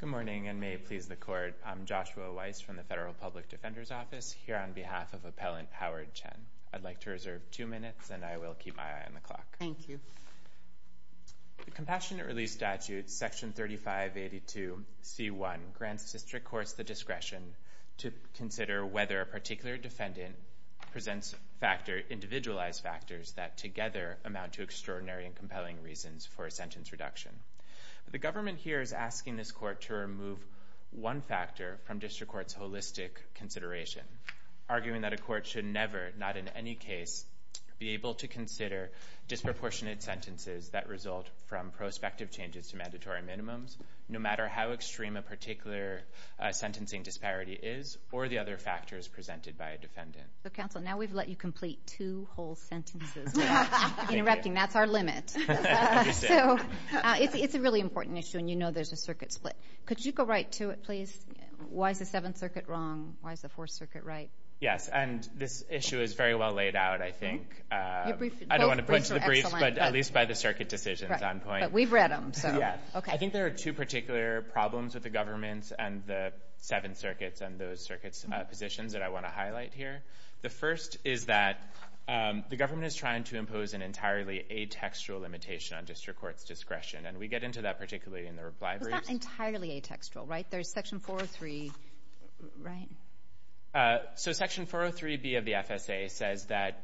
Good morning, and may it please the Court, I'm Joshua Weiss from the Federal Public Defender's Office, here on behalf of Appellant Howard Chen. I'd like to reserve two minutes, and I will keep my eye on the clock. Thank you. The Compassionate Release Statute, Section 3582C1, grants district courts the discretion to consider whether a particular defendant presents individualized factors that, together, amount to extraordinary and compelling reasons for a sentence reduction. The government here is asking this Court to remove one factor from district courts' holistic consideration, arguing that a court should never, not in any case, be able to consider disproportionate sentences that result from prospective changes to mandatory minimums, no matter how extreme a particular sentencing disparity is, or the other factors presented by a defendant. So, counsel, now we've let you complete two whole sentences without interrupting. That's our limit. So, it's a really important issue, and you know there's a circuit split. Could you go right to it, please? Why is the Seventh Circuit wrong? Why is the Fourth Circuit right? Yes, and this issue is very well laid out, I think. I don't want to put it to the brief, but at least by the circuit decisions on point. But we've read them, so. Yes. Okay. I think there are two particular problems with the governments and the Seventh Circuits and those circuit positions that I want to highlight here. The first is that the government is trying to impose an entirely atextual limitation on district courts' discretion, and we get into that particularly in the reply briefs. It's not entirely atextual, right? There's Section 403, right? So Section 403B of the FSA says that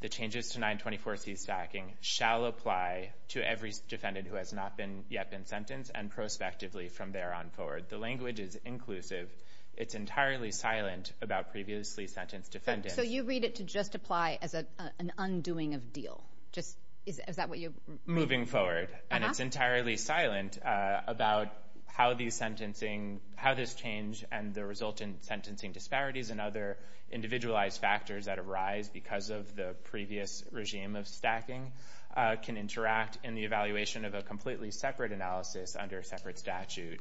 the changes to 924C stacking shall apply to every defendant who has not yet been sentenced and prospectively from there on forward. The language is inclusive it's entirely silent about previously sentenced defendants. So you read it to just apply as an undoing of deal. Is that what you're... Moving forward. And it's entirely silent about how this change and the resultant sentencing disparities and other individualized factors that arise because of the previous regime of stacking can interact in the evaluation of a completely separate analysis under a separate statute,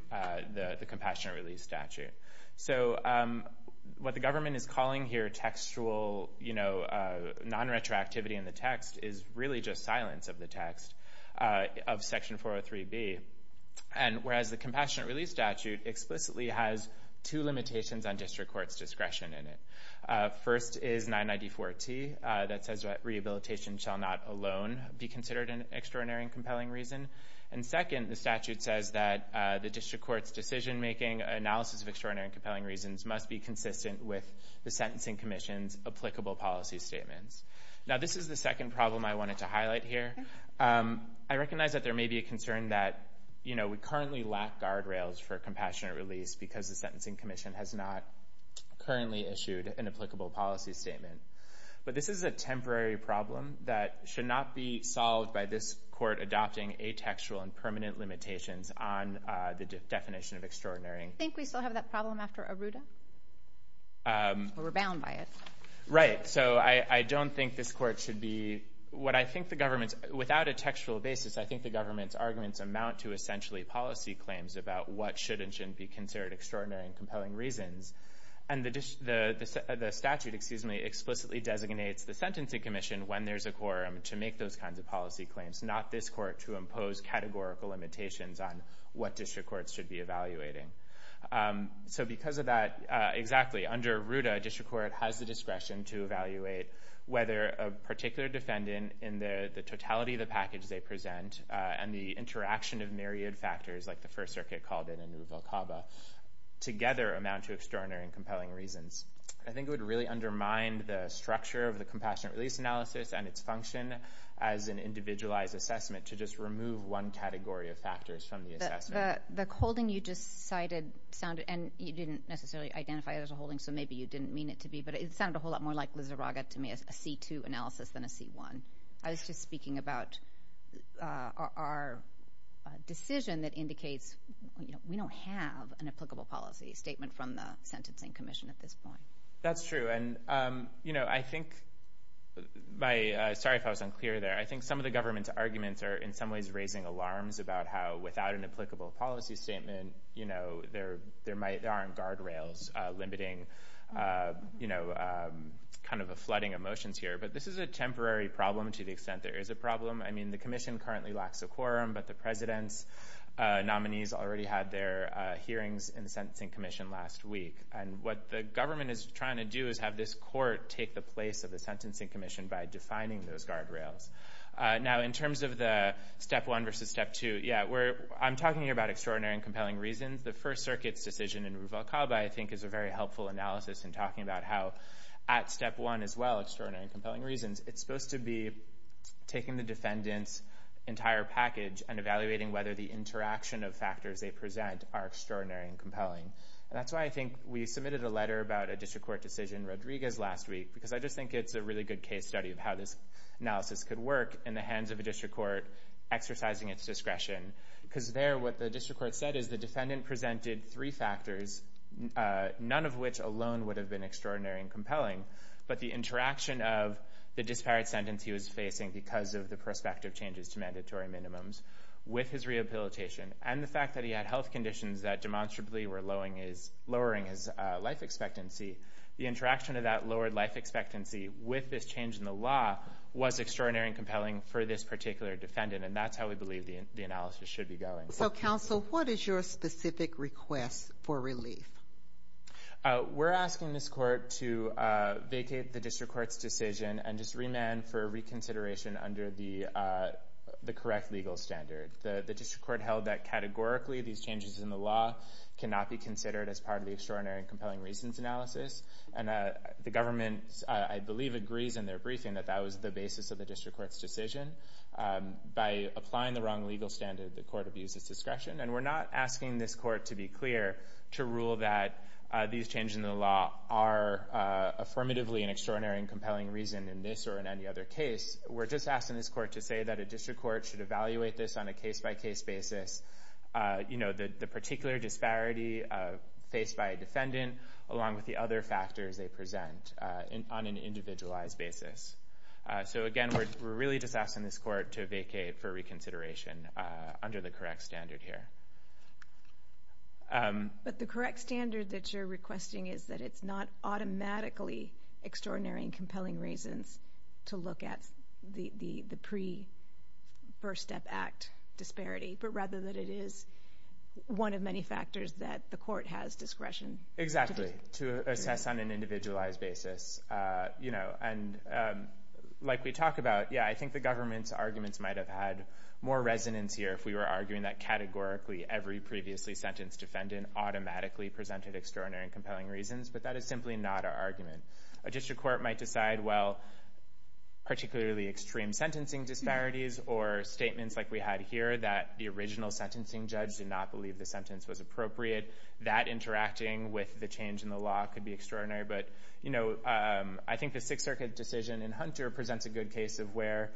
the Compassionate Release Statute. So what the government is calling here textual non-retroactivity in the text is really just silence of the text of Section 403B. And whereas the Compassionate Release Statute explicitly has two limitations on district courts' discretion in it. First is 994T that says rehabilitation shall not alone be considered an extraordinary and compelling reason. And second, the statute says that the district court's decision-making analysis of extraordinary and compelling reasons must be consistent with the Sentencing Commission's applicable policy statements. Now this is the second problem I wanted to highlight here. I recognize that there may be a concern that we currently lack guardrails for Compassionate Release because the Sentencing Commission has not currently issued an applicable policy statement. But this is a temporary problem that should not be solved by this court adopting atextual and permanent limitations on the definition of extraordinary. I think we still have that problem after Arruda. We're bound by it. Right. So I don't think this court should be, what I think the government's, without a textual basis, I think the government's arguments amount to essentially policy claims about what should and shouldn't be considered extraordinary and compelling reasons. And the statute explicitly designates the Sentencing Commission when there's a quorum to make those kinds of policy claims, not this court to impose categorical limitations on what district courts should be evaluating. So because of that, exactly, under Arruda, a district court has the discretion to evaluate whether a particular defendant in the totality of the package they present and the interaction of myriad factors, like the First Circuit called it in the Vulcaba, together amount to extraordinary and compelling reasons. I think it would really undermine the structure of the Compassionate Release Analysis and its function as an individualized assessment to just remove one category of factors from the assessment. The holding you just cited sounded, and you didn't necessarily identify it as a holding, so maybe you didn't mean it to be, but it sounded a whole lot more like Lizarraga to me as a C2 analysis than a C1. I was just speaking about our decision that indicates we don't have an applicable policy statement from the Sentencing Commission at this point. That's true. And I think, sorry if I was unclear there, I think some of the government's arguments are in some ways raising alarms about how without an applicable policy statement, there might, there aren't guardrails limiting a flooding of motions here. But this is a temporary problem to the extent there is a problem. I mean, the commission currently lacks a quorum, but the president's nominees already had their hearings in the Sentencing Commission last week. And what the government is trying to do is have this court take the place of the Sentencing Commission by defining those guardrails. Now in terms of the step one versus step two, yeah, I'm talking about extraordinary and compelling reasons. The First Circuit's decision in Rubalcaba I think is a very helpful analysis in talking about how at step one as well, extraordinary and compelling reasons, it's supposed to be taking the defendant's entire package and evaluating whether the interaction of factors they present are extraordinary and compelling. And that's why I think we submitted a letter about a district court decision Rodriguez last week, because I just think it's a really good case study of how this analysis could work in the hands of a district court exercising its discretion. Because there what the district court said is the defendant presented three factors, none of which alone would have been extraordinary and compelling, but the interaction of the disparate sentence he was facing because of prospective changes to mandatory minimums with his rehabilitation and the fact that he had health conditions that demonstrably were lowering his life expectancy, the interaction of that lowered life expectancy with this change in the law was extraordinary and compelling for this particular defendant. And that's how we believe the analysis should be going. So counsel, what is your specific request for relief? We're asking this court to vacate the district court's decision and just remand for reconsideration under the correct legal standard. The district court held that categorically these changes in the law cannot be considered as part of the extraordinary and compelling reasons analysis. And the government, I believe, agrees in their briefing that that was the basis of the district court's decision. By applying the wrong legal standard, the court abuses discretion. And we're not asking this court to be clear to rule that these changes in the law are affirmatively an extraordinary and compelling reason in this or in any other case. We're just asking this court to say that a district court should evaluate this on a case-by-case basis. You know, the particular disparity faced by a defendant along with the other factors they present on an individualized basis. So again, we're really just asking this court to vacate for reconsideration under the correct standard here. But the correct standard that you're automatically extraordinary and compelling reasons to look at the pre-First Step Act disparity. But rather than it is one of many factors that the court has discretion. Exactly. To assess on an individualized basis. You know, and like we talk about, yeah, I think the government's arguments might have had more resonance here if we were arguing that categorically every previously sentenced defendant automatically presented extraordinary and compelling reasons. But that is simply not our argument. A district court might decide, well, particularly extreme sentencing disparities or statements like we had here that the original sentencing judge did not believe the sentence was appropriate. That interacting with the change in the law could be extraordinary. But, you know, I think the Sixth Circuit decision in Hunter presents a good case of where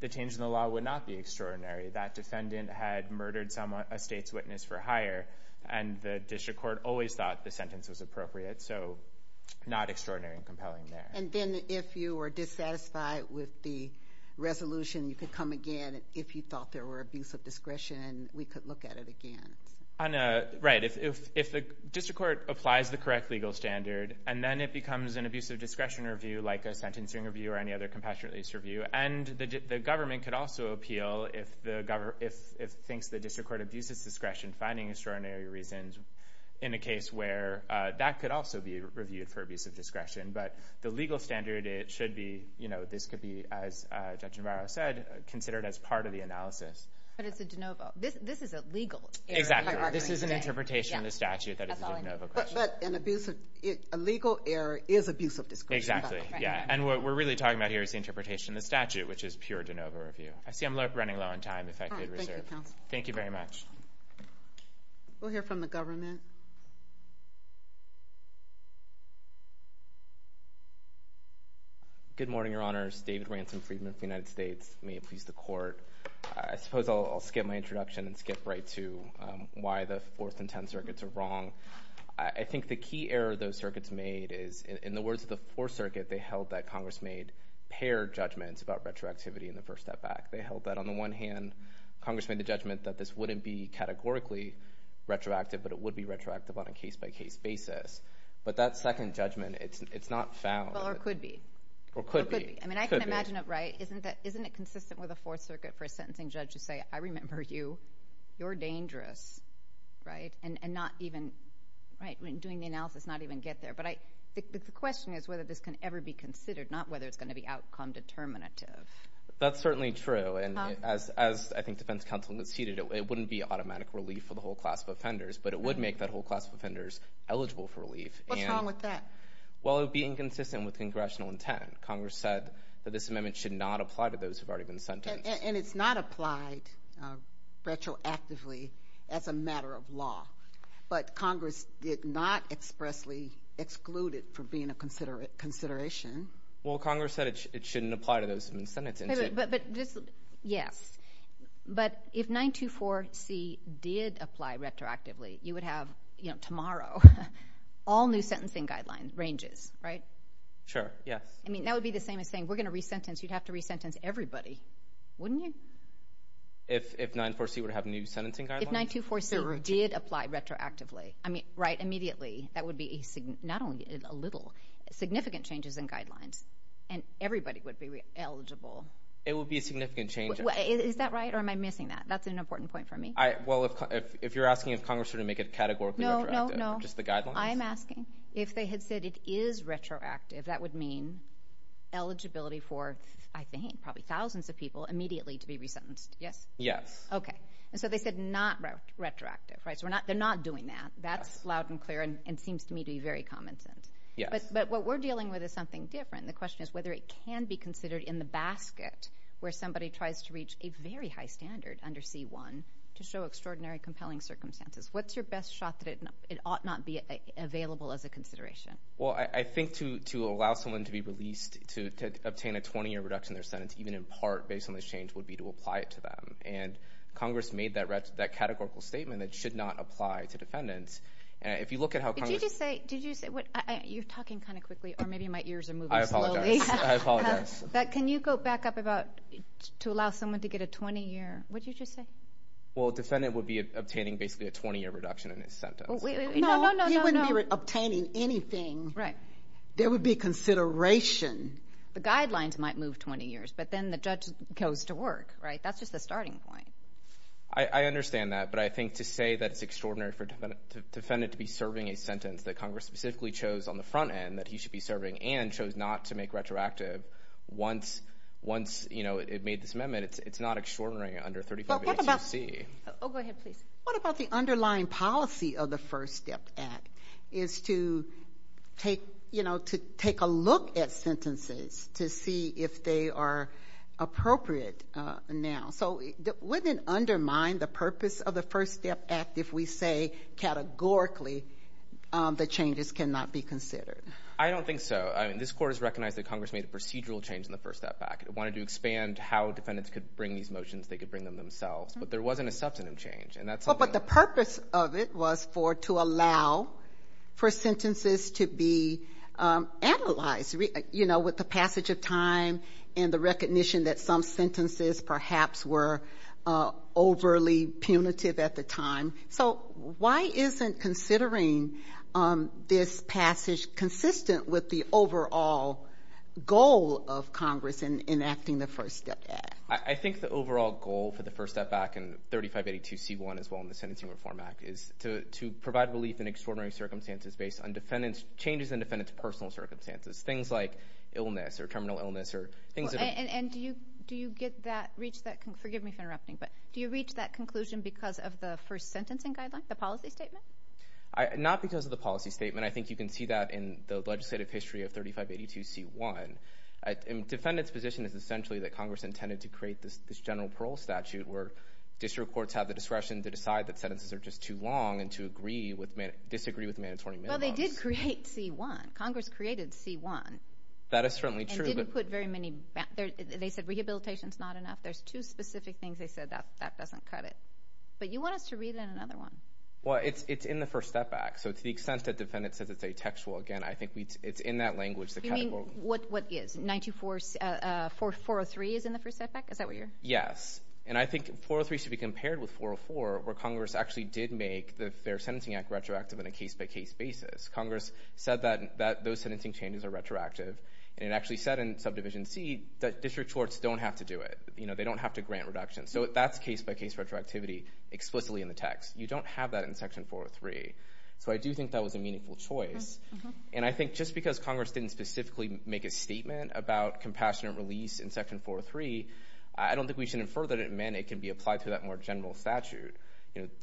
the change in the law would not be extraordinary. That defendant had murdered someone, a state's witness for hire. And the district court always thought the sentence was appropriate. So not extraordinary and compelling there. And then if you were dissatisfied with the resolution, you could come again. If you thought there were abuse of discretion, we could look at it again. Right. If the district court applies the correct legal standard, and then it becomes an abuse of discretion review, like a sentencing review or any other compassionate abuse review. And the government could also appeal if it thinks the district court abuses discretion finding extraordinary reasons in a case where that could also be reviewed for abuse of discretion. But the legal standard, it should be, you know, this could be, as Judge Navarro said, considered as part of the analysis. But it's a de novo. This is a legal error. Exactly. This is an interpretation of the statute that is a de novo question. But an abusive, a legal error is abuse of discretion. Exactly. Yeah. And what we're really talking about here is the interpretation of the statute, which is pure de novo review. I see I'm running low on time, if I could reserve. Thank you very much. We'll hear from the government. Good morning, Your Honors. David Ransom Friedman of the United States. May it please the court. I suppose I'll skip my introduction and skip right to why the Fourth and Tenth Circuits are wrong. I think the key error those circuits made is, in the words of the Fourth Circuit, they held that Congress made paired judgments about retroactivity in the first step back. They held that, on the one hand, Congress made the judgment that this wouldn't be categorically retroactive, but it would be retroactive on a case-by-case basis. But that second judgment, it's not found. Well, or could be. Or could be. I mean, I can imagine it, right? Isn't it consistent with the Fourth Circuit for a sentencing judge to say, I remember you, you're dangerous, right? And not even, right, when doing the analysis, not even get there. But the question is whether this can ever be considered, not whether it's going to be and as I think defense counsel conceded, it wouldn't be automatic relief for the whole class of offenders, but it would make that whole class of offenders eligible for relief. What's wrong with that? Well, it would be inconsistent with congressional intent. Congress said that this amendment should not apply to those who've already been sentenced. And it's not applied retroactively as a matter of law. But Congress did not expressly exclude it from being a consideration. Well, Congress said it shouldn't apply to those who've been sentenced. Yes. But if 924C did apply retroactively, you would have, you know, tomorrow, all new sentencing guidelines ranges, right? Sure, yes. I mean, that would be the same as saying we're going to re-sentence, you'd have to re-sentence everybody, wouldn't you? If 924C would have new sentencing guidelines? If 924C did apply retroactively, I mean, right, immediately, that would be not only a little, significant changes in guidelines, and everybody would be eligible. It would be a significant change. Is that right? Or am I missing that? That's an important point for me. Well, if you're asking if Congress would make it categorically retroactive, just the guidelines? I'm asking if they had said it is retroactive, that would mean eligibility for, I think, probably thousands of people immediately to be re-sentenced. Yes? Yes. Okay. And so they said not retroactive, right? So they're not doing that. That's loud and clear and seems to me to common sense. Yes. But what we're dealing with is something different. The question is whether it can be considered in the basket where somebody tries to reach a very high standard under C-1 to show extraordinary compelling circumstances. What's your best shot that it ought not be available as a consideration? Well, I think to allow someone to be released, to obtain a 20-year reduction in their sentence, even in part based on this change, would be to apply it to them. And Congress made that categorical statement that should not apply to defendants. If you look at Did you just say, you're talking kind of quickly, or maybe my ears are moving slowly. I apologize. But can you go back up about to allow someone to get a 20-year, what did you just say? Well, a defendant would be obtaining basically a 20-year reduction in his sentence. No, no, no. He wouldn't be obtaining anything. Right. There would be consideration. The guidelines might move 20 years, but then the judge goes to work, right? That's just the starting point. I understand that, but I think to say that it's extraordinary for a defendant to be serving a sentence that Congress specifically chose on the front end that he should be serving and chose not to make retroactive once it made this amendment, it's not extraordinary under 35-HUC. Oh, go ahead, please. What about the underlying policy of the First Step Act is to take a look at sentences to see if they are appropriate now? So wouldn't it undermine the purpose of the First Step Act if, categorically, the changes cannot be considered? I don't think so. I mean, this Court has recognized that Congress made a procedural change in the First Step Act. It wanted to expand how defendants could bring these motions. They could bring them themselves, but there wasn't a substantive change, and that's something- Well, but the purpose of it was to allow for sentences to be analyzed, you know, with the passage of time and the recognition that some sentences perhaps were overly punitive at the time. So why isn't considering this passage consistent with the overall goal of Congress in enacting the First Step Act? I think the overall goal for the First Step Act and 3582c1 as well in the Sentencing Reform Act is to provide relief in extraordinary circumstances based on changes in defendants' personal circumstances, things like illness or terminal illness or things that- And do you get that, reach that, do you reach that conclusion because of the first sentencing guideline, the policy statement? Not because of the policy statement. I think you can see that in the legislative history of 3582c1. A defendant's position is essentially that Congress intended to create this general parole statute where district courts have the discretion to decide that sentences are just too long and to disagree with mandatory minimums. Well, they did create c1. Congress created c1. That is certainly true, but- And didn't put very many- They said rehabilitation's not enough. There's two specific things they said that doesn't cut it. But you want us to read in another one. Well, it's in the First Step Act. So to the extent that defendants say it's a textual, again, I think it's in that language that- You mean what is, 904-403 is in the First Step Act? Is that what you're- Yes. And I think 403 should be compared with 404 where Congress actually did make their Sentencing Act retroactive on a case-by-case basis. Congress said that those sentencing changes are retroactive. And it actually said in Subdivision C that district courts don't have to do it. They don't have to grant reduction. So that's case-by-case retroactivity explicitly in the text. You don't have that in Section 403. So I do think that was a meaningful choice. And I think just because Congress didn't specifically make a statement about compassionate release in Section 403, I don't think we should infer that it meant it can be applied to that more general statute.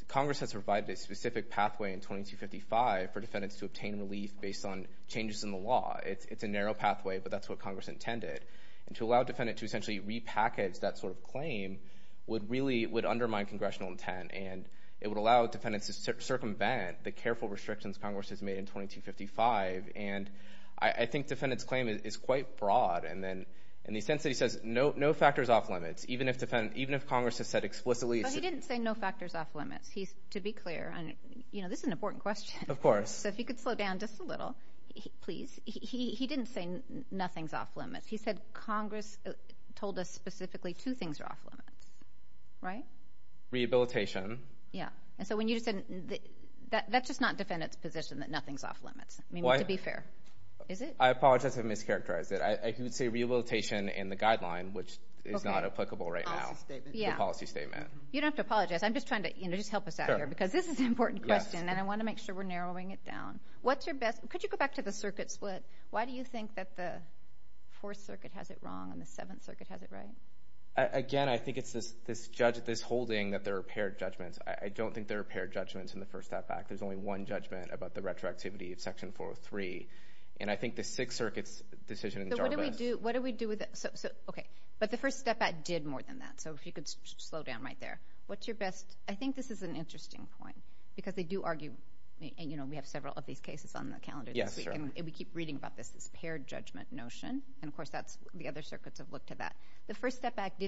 Congress has provided a specific pathway in 2255 for defendants to It's a narrow pathway, but that's what Congress intended. And to allow a defendant to essentially repackage that sort of claim would really undermine Congressional intent. And it would allow defendants to circumvent the careful restrictions Congress has made in 2255. And I think defendants' claim is quite broad in the sense that he says, no factors off limits, even if Congress has said explicitly- But he didn't say no factors off limits. To be clear, this is an important question. Of course. So if you could slow down just a little, please. He didn't say nothing's off limits. He said Congress told us specifically two things are off limits. Right? Rehabilitation. Yeah. And so when you just said that, that's just not defendants' position that nothing's off limits. I mean, to be fair. Is it? I apologize if I mischaracterized it. I could say rehabilitation in the guideline, which is not applicable right now. Policy statement. Yeah. The policy statement. You don't have to apologize. I'm just trying to, you know, just help us out here. This is an important question and I want to make sure we're narrowing it down. What's your best- Could you go back to the circuit split? Why do you think that the Fourth Circuit has it wrong and the Seventh Circuit has it right? Again, I think it's this holding that there are paired judgments. I don't think there are paired judgments in the First Step Act. There's only one judgment about the retroactivity of Section 403. And I think the Sixth Circuit's decision in Jarvis- What do we do with it? Okay. But the First Step Act did more than that. So if you could slow down right there. What's your best- I think this is an interesting point. Because they do argue, and you know, we have several of these cases on the calendar. Yes, sure. And we keep reading about this, this paired judgment notion. And of course, that's the other circuits have looked at that. The First Step Act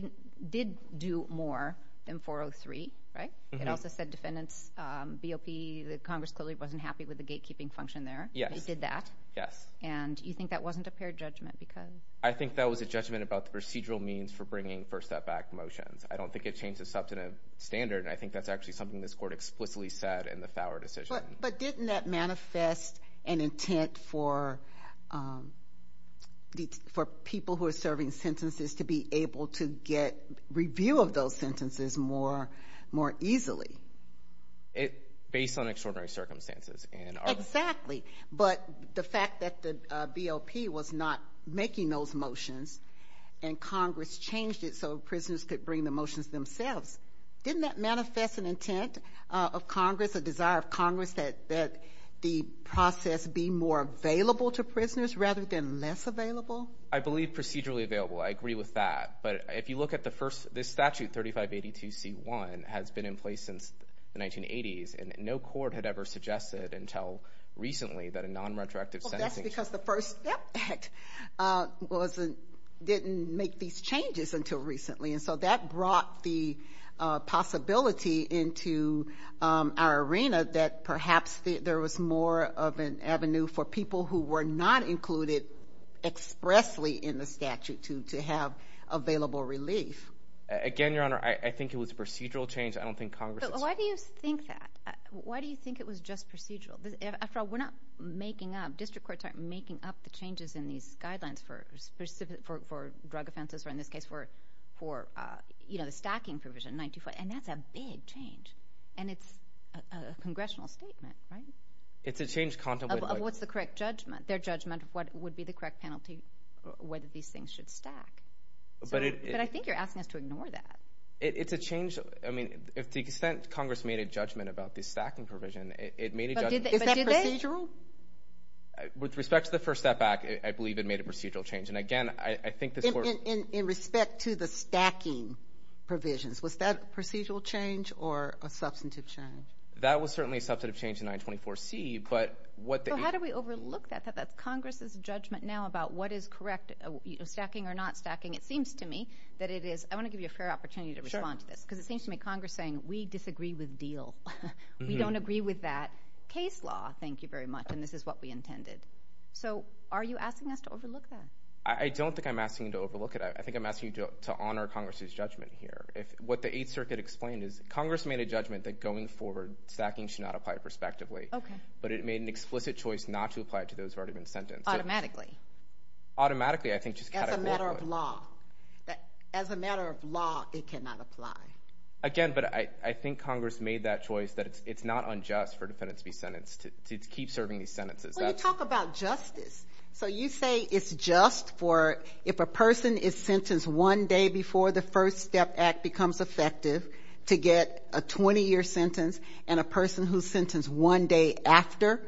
did do more than 403, right? It also said defendants, BOP, the Congress clearly wasn't happy with the gatekeeping function there. Yes. They did that. Yes. And you think that wasn't a paired judgment because- I think that was a judgment about the procedural means for bringing First Step Act motions. I don't think it changed the substantive standard. And I think that's actually something this court explicitly said in the Thower decision. But didn't that manifest an intent for people who are serving sentences to be able to get review of those sentences more easily? Based on extraordinary circumstances. Exactly. But the fact that the BOP was not making those motions and Congress changed it so prisoners could bring the motions themselves. Didn't that manifest an intent of Congress, a desire of Congress that the process be more available to prisoners rather than less available? I believe procedurally available. I agree with that. But if you look at the first, this statute 3582C1 has been in place since the 1980s and no court had ever suggested until recently that a non-retroactive sentence- That's because the First Step Act didn't make these changes until recently. And so that brought the possibility into our arena that perhaps there was more of an avenue for people who were not included expressly in the statute to have available relief. Again, Your Honor, I think it was a procedural change. I don't think Congress- Why do you think that? Why do you think it was just procedural? After all, district courts aren't making up the changes in these guidelines for drug offenses, or in this case for the stacking provision. And that's a big change. And it's a congressional statement, right? It's a change contemplated- What's the correct judgment? Their judgment of what would be the correct penalty, whether these things should stack. But I think you're asking us to ignore that. To the extent Congress made a judgment about the stacking provision, it made a judgment- Is that procedural? With respect to the First Step Act, I believe it made a procedural change. And again, I think- In respect to the stacking provisions, was that a procedural change or a substantive change? That was certainly a substantive change in 924C, but what- How do we overlook that? That's Congress's judgment now about what is correct, stacking or not stacking. It seems to me that it is- I want to give you a fair opportunity to respond to this, because it seems to me Congress saying, we disagree with DEAL. We don't agree with that case law, thank you very much, and this is what we intended. So are you asking us to overlook that? I don't think I'm asking you to overlook it. I think I'm asking you to honor Congress's judgment here. What the Eighth Circuit explained is Congress made a judgment that going forward, stacking should not apply prospectively. But it made an explicit choice not to apply it to those who have already been sentenced. Automatically. Automatically, I think just categorically- As a matter of law. As a matter of law, it cannot apply. Again, but I think Congress made that choice that it's not unjust for defendants to be sentenced, to keep serving these sentences. Well, you talk about justice. So you say it's just for- if a person is sentenced one day before the First Step Act becomes effective to get a 20-year sentence, and a person who's sentenced one day after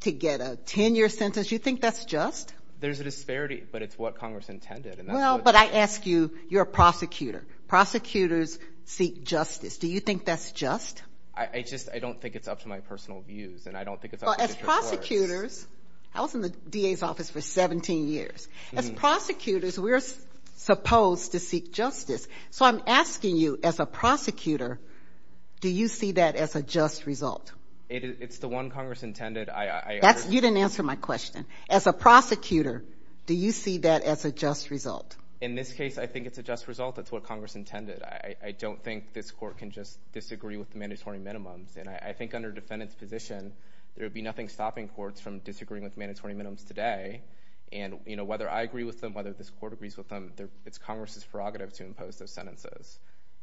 to get a 10-year sentence, you think that's just? There's a disparity, but it's what Congress intended. But I ask you, you're a prosecutor. Prosecutors seek justice. Do you think that's just? I just, I don't think it's up to my personal views, and I don't think it's- Well, as prosecutors, I was in the DA's office for 17 years. As prosecutors, we're supposed to seek justice. So I'm asking you, as a prosecutor, do you see that as a just result? It's the one Congress intended. You didn't answer my question. As a prosecutor, do you see that as a just result? In this case, I think it's a just result. That's what Congress intended. I don't think this court can just disagree with the mandatory minimums. And I think under defendant's position, there would be nothing stopping courts from disagreeing with mandatory minimums today. And whether I agree with them, whether this court agrees with them, it's Congress's prerogative to impose those sentences.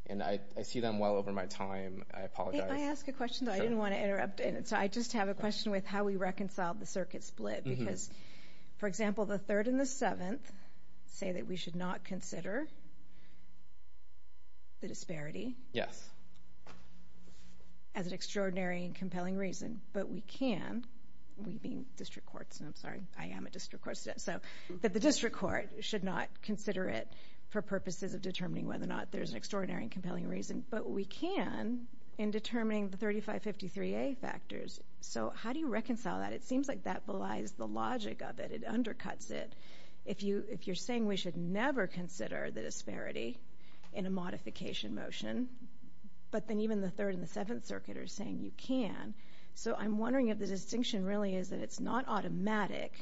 And I see them well over my time. I apologize. I didn't want to interrupt. So I just have a question with how we reconcile the circuit split. Because, for example, the 3rd and the 7th say that we should not consider the disparity as an extraordinary and compelling reason. But we can, we being district courts, and I'm sorry, I am a district court student. So, that the district court should not consider it for purposes of determining whether or not there's extraordinary and compelling reason. But we can in determining the 3553A factors. So how do you reconcile that? It seems like that belies the logic of it. It undercuts it. If you're saying we should never consider the disparity in a modification motion, but then even the 3rd and the 7th Circuit are saying you can. So I'm wondering if the distinction really is that it's not automatic,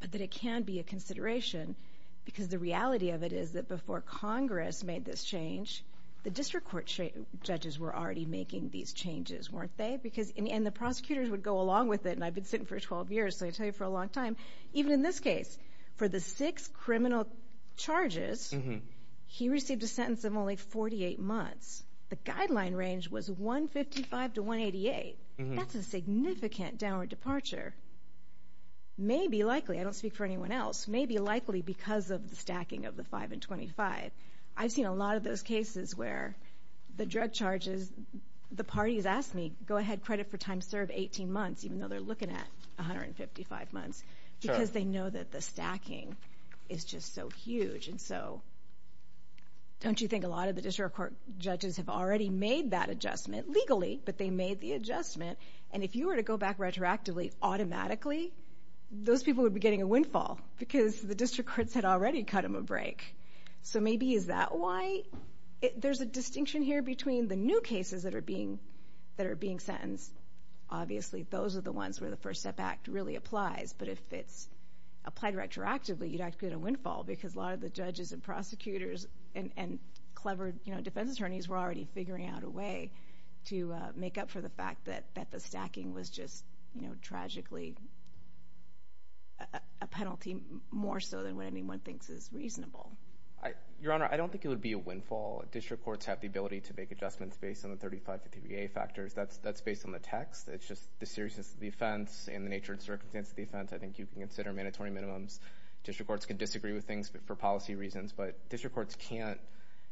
but that it can be a consideration. Because the reality of it is that before Congress made this change, the district court judges were already making these changes, weren't they? And the prosecutors would go along with it. And I've been sitting for 12 years, so I tell you, for a long time. Even in this case, for the six criminal charges, he received a sentence of only 48 months. The guideline range was 155 to 188. That's a significant downward departure. Maybe, likely, I don't speak for anyone else, maybe likely because of the stacking of the 5 and 25. I've seen a lot of those cases where the drug charges, the parties ask me, go ahead, credit for time served, 18 months, even though they're looking at 155 months. Because they know that the stacking is just so huge. And so don't you think a lot of the district court judges have already made that adjustment, legally, but they made the adjustment. And if you were to go back retroactively, automatically, those people would be getting a windfall because the district courts had already cut them a break. So maybe is that why? There's a distinction here between the new cases that are being sentenced. Obviously, those are the ones where the First Step Act really applies. But if it's applied retroactively, you'd actually get a windfall because a lot of the judges and prosecutors and clever defense attorneys were already figuring out a way to make up for the fact that the district courts are getting a penalty more so than what anyone thinks is reasonable. Your Honor, I don't think it would be a windfall. District courts have the ability to make adjustments based on the 35 to PVA factors. That's based on the text. It's just the seriousness of the offense and the nature and circumstance of the offense. I think you can consider mandatory minimums. District courts can disagree with things for policy reasons, but district courts can't.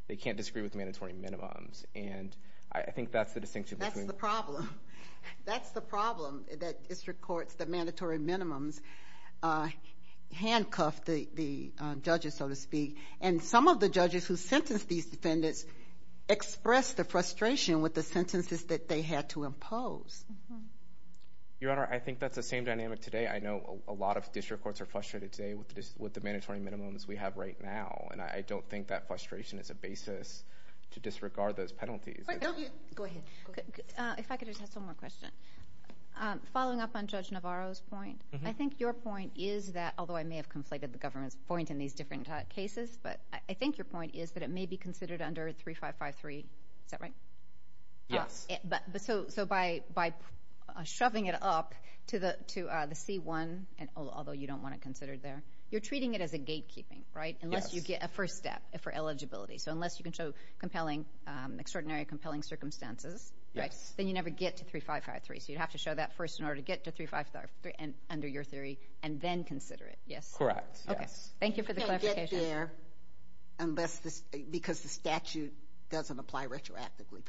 They can't disagree with mandatory minimums. And I think that's the distinction. That's the problem. That's the problem that district courts, that mandatory minimums handcuff the judges, so to speak. And some of the judges who sentenced these defendants expressed the frustration with the sentences that they had to impose. Your Honor, I think that's the same dynamic today. I know a lot of district courts are frustrated today with the mandatory minimums we have right now. And I don't think that If I could just ask one more question. Following up on Judge Navarro's point, I think your point is that, although I may have conflated the government's point in these different cases, but I think your point is that it may be considered under 3553. Is that right? Yes. So by shoving it up to the C-1, although you don't want it considered there, you're treating it as a gatekeeping, right? Yes. Unless you get a first step for eligibility. So unless you can show extraordinary compelling circumstances, then you never get to 3553. So you'd have to show that first in order to get to 3553 under your theory, and then consider it. Yes? Correct. Yes. Thank you for the clarification. You can't get there because the statute doesn't apply retroactively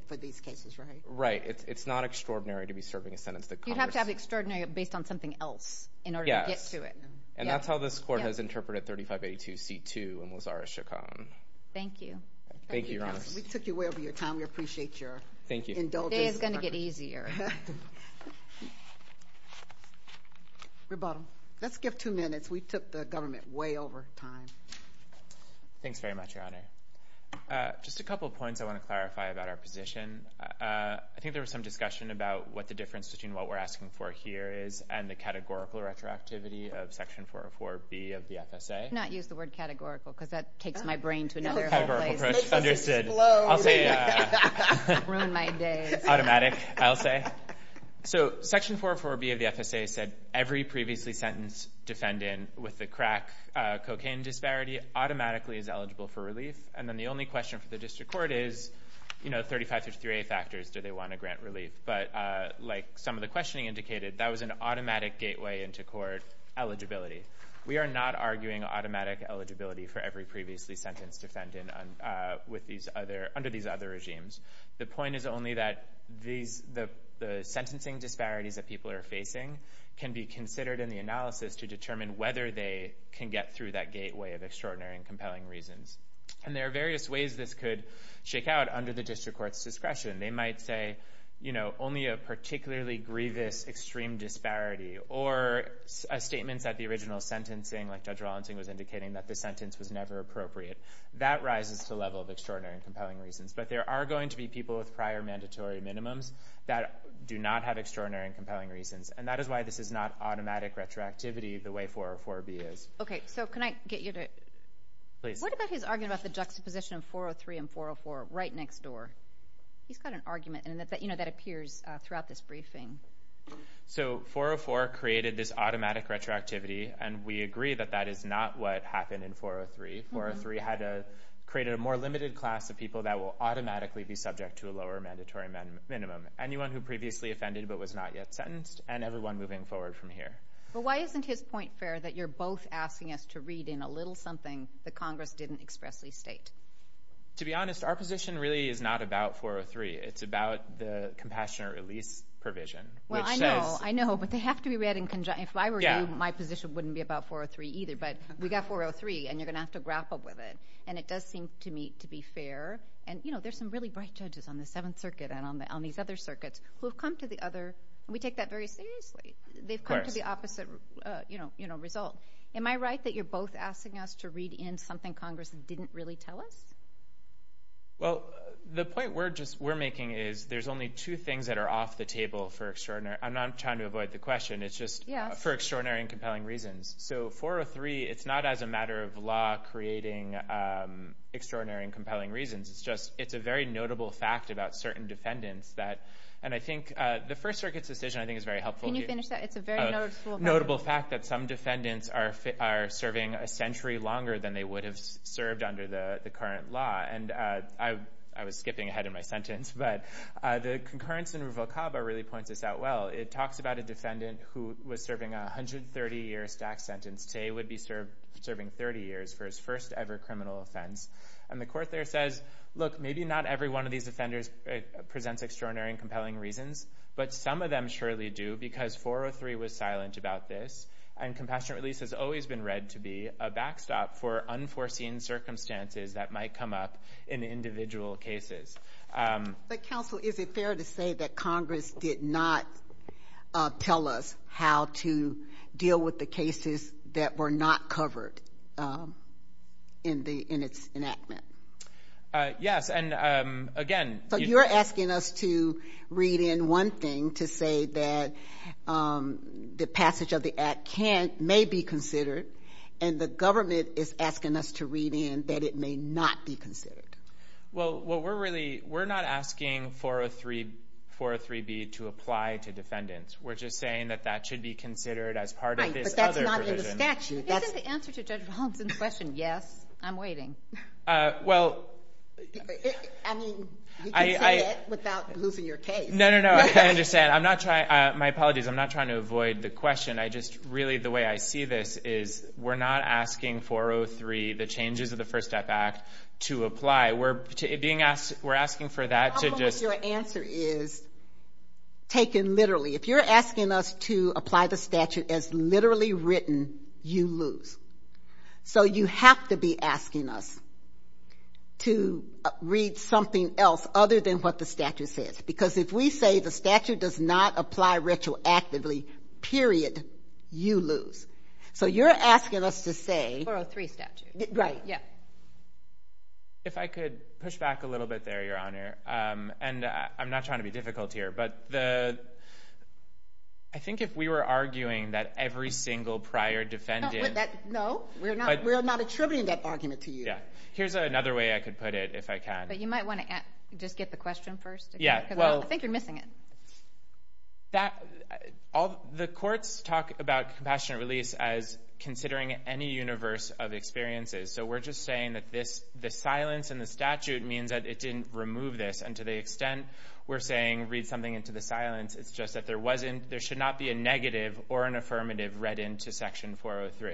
for these cases, right? Right. It's not extraordinary to be serving a sentence that covers... You'd have to have extraordinary based on something else in order to get to it. And that's how this court has interpreted 3582 C-2 in Lazarus-Chacon. Thank you. Thank you, Your Honor. We took you way over your time. We appreciate your indulgence. Today is going to get easier. Rebuttal. Let's give two minutes. We took the government way over time. Thanks very much, Your Honor. Just a couple of points I want to clarify about our position. I think there was some discussion about what the difference between what we're asking for here is and the categorical retroactivity of Section 404B of the FSA. Let's not use the word categorical because that takes my brain to another place. Categorical approach. Understood. It makes us explode. I'll say... Ruin my days. Automatic, I'll say. So Section 404B of the FSA said, every previously sentenced defendant with the crack cocaine disparity automatically is eligible for relief. And then the only question for the district court is, you know, 35 to three factors, do they want to grant relief? But like some of the questioning indicated, that was an automatic gateway into court eligibility. We are not arguing automatic eligibility for every previously sentenced defendant under these other regimes. The point is only that the sentencing disparities that people are facing can be considered in the analysis to determine whether they can get through that gateway of extraordinary and compelling reasons. And there are various ways this could shake out under the district court's discretion. They might say, you know, only a particularly grievous extreme disparity or a statement that the original sentencing, like Judge Rawlinson was indicating, that the sentence was never appropriate. That rises to the level of extraordinary and compelling reasons. But there are going to be people with prior mandatory minimums that do not have extraordinary and compelling reasons. And that is why this is not automatic retroactivity the way 404B is. Okay. So can I get you to... Please. What about his argument about the juxtaposition of 403 and 404 right next door? He's got an argument. And you know, that appears throughout this briefing. So 404 created this automatic retroactivity, and we agree that that is not what happened in 403. 403 had created a more limited class of people that will automatically be subject to a lower mandatory minimum. Anyone who previously offended but was not yet sentenced and everyone moving forward from here. But why isn't his point fair that you're both asking us to read in a little something that Congress didn't expressly state? To be honest, our position really is not about 403. It's about the compassionate release provision. Well, I know. I know. But they have to be read in conjunction. If I were you, my position wouldn't be about 403 either. But we got 403, and you're going to have to grapple with it. And it does seem to me to be fair. And you know, there's some really bright judges on the Seventh Circuit and on these other circuits who have come to the other... We take that very seriously. They've come to the opposite result. Am I right that you're both asking us to read in something Congress didn't really tell us? Well, the point we're making is there's only two things that are off the table for extraordinary... I'm not trying to avoid the question. It's just for extraordinary and compelling reasons. So 403, it's not as a matter of law creating extraordinary and compelling reasons. It's just it's a very notable fact about certain defendants that... And I think the First Circuit's decision, I think, is very helpful. Can you finish that? It's a very notable... Notable fact that some defendants are serving a century longer than they would have served under the current law. And I was skipping ahead in my sentence. But the concurrence in Ruvalcaba really points this out well. It talks about a defendant who was serving 130 years tax sentence. Tse would be serving 30 years for his first ever criminal offense. And the court there says, look, maybe not every one of these offenders presents extraordinary and compelling reasons. But some of them surely do because 403 was silent about this. And compassionate release has always been read to be a backstop for unforeseen circumstances that might come up in individual cases. But counsel, is it fair to say that Congress did not tell us how to deal with the cases that were not covered in its enactment? Yes. And again... You're asking us to read in one thing to say that the passage of the act may be considered. And the government is asking us to read in that it may not be considered. Well, we're not asking 403B to apply to defendants. We're just saying that that should be considered as part of this other provision. Right, but that's not in the statute. Isn't the answer to Judge Robinson's question, yes? I'm waiting. Well... I mean, you can say that without losing your case. No, no, no, I understand. I'm not trying... My apologies. I'm not trying to avoid the question. I just... Really, the way I see this is we're not asking 403, the changes of the First Step Act, to apply. We're being asked... We're asking for that to just... Your answer is taken literally. If you're asking us to apply the statute as literally written, you lose. So you have to be asking us to read something else other than what the statute says. Because if we say the statute does not apply retroactively, period, you lose. So you're asking us to say... 403 statute. Right. If I could push back a little bit there, Your Honor, and I'm not trying to be difficult here, but the... I think if we were arguing that every single prior defendant... No, we're not attributing that argument to you. Yeah. Here's another way I could put it, if I can. But you might want to just get the question first. Yeah, well... I think you're missing it. The courts talk about compassionate release as considering any universe of experiences. So we're just saying that the silence in the statute means that it didn't remove this. And to the extent we're saying, read something into the silence, it's just that there wasn't... read into section 403,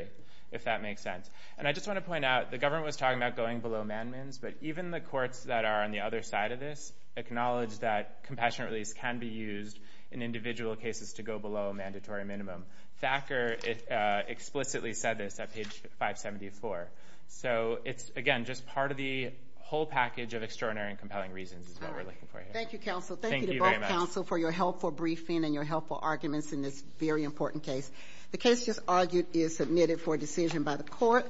if that makes sense. And I just want to point out, the government was talking about going below mandamins. But even the courts that are on the other side of this acknowledge that compassionate release can be used in individual cases to go below a mandatory minimum. Thacker explicitly said this at page 574. So it's, again, just part of the whole package of extraordinary and compelling reasons is what we're looking for here. Thank you, counsel. Thank you to both counsel for your helpful briefing and your helpful arguments in this very important case. The case just argued is submitted for decision by the court.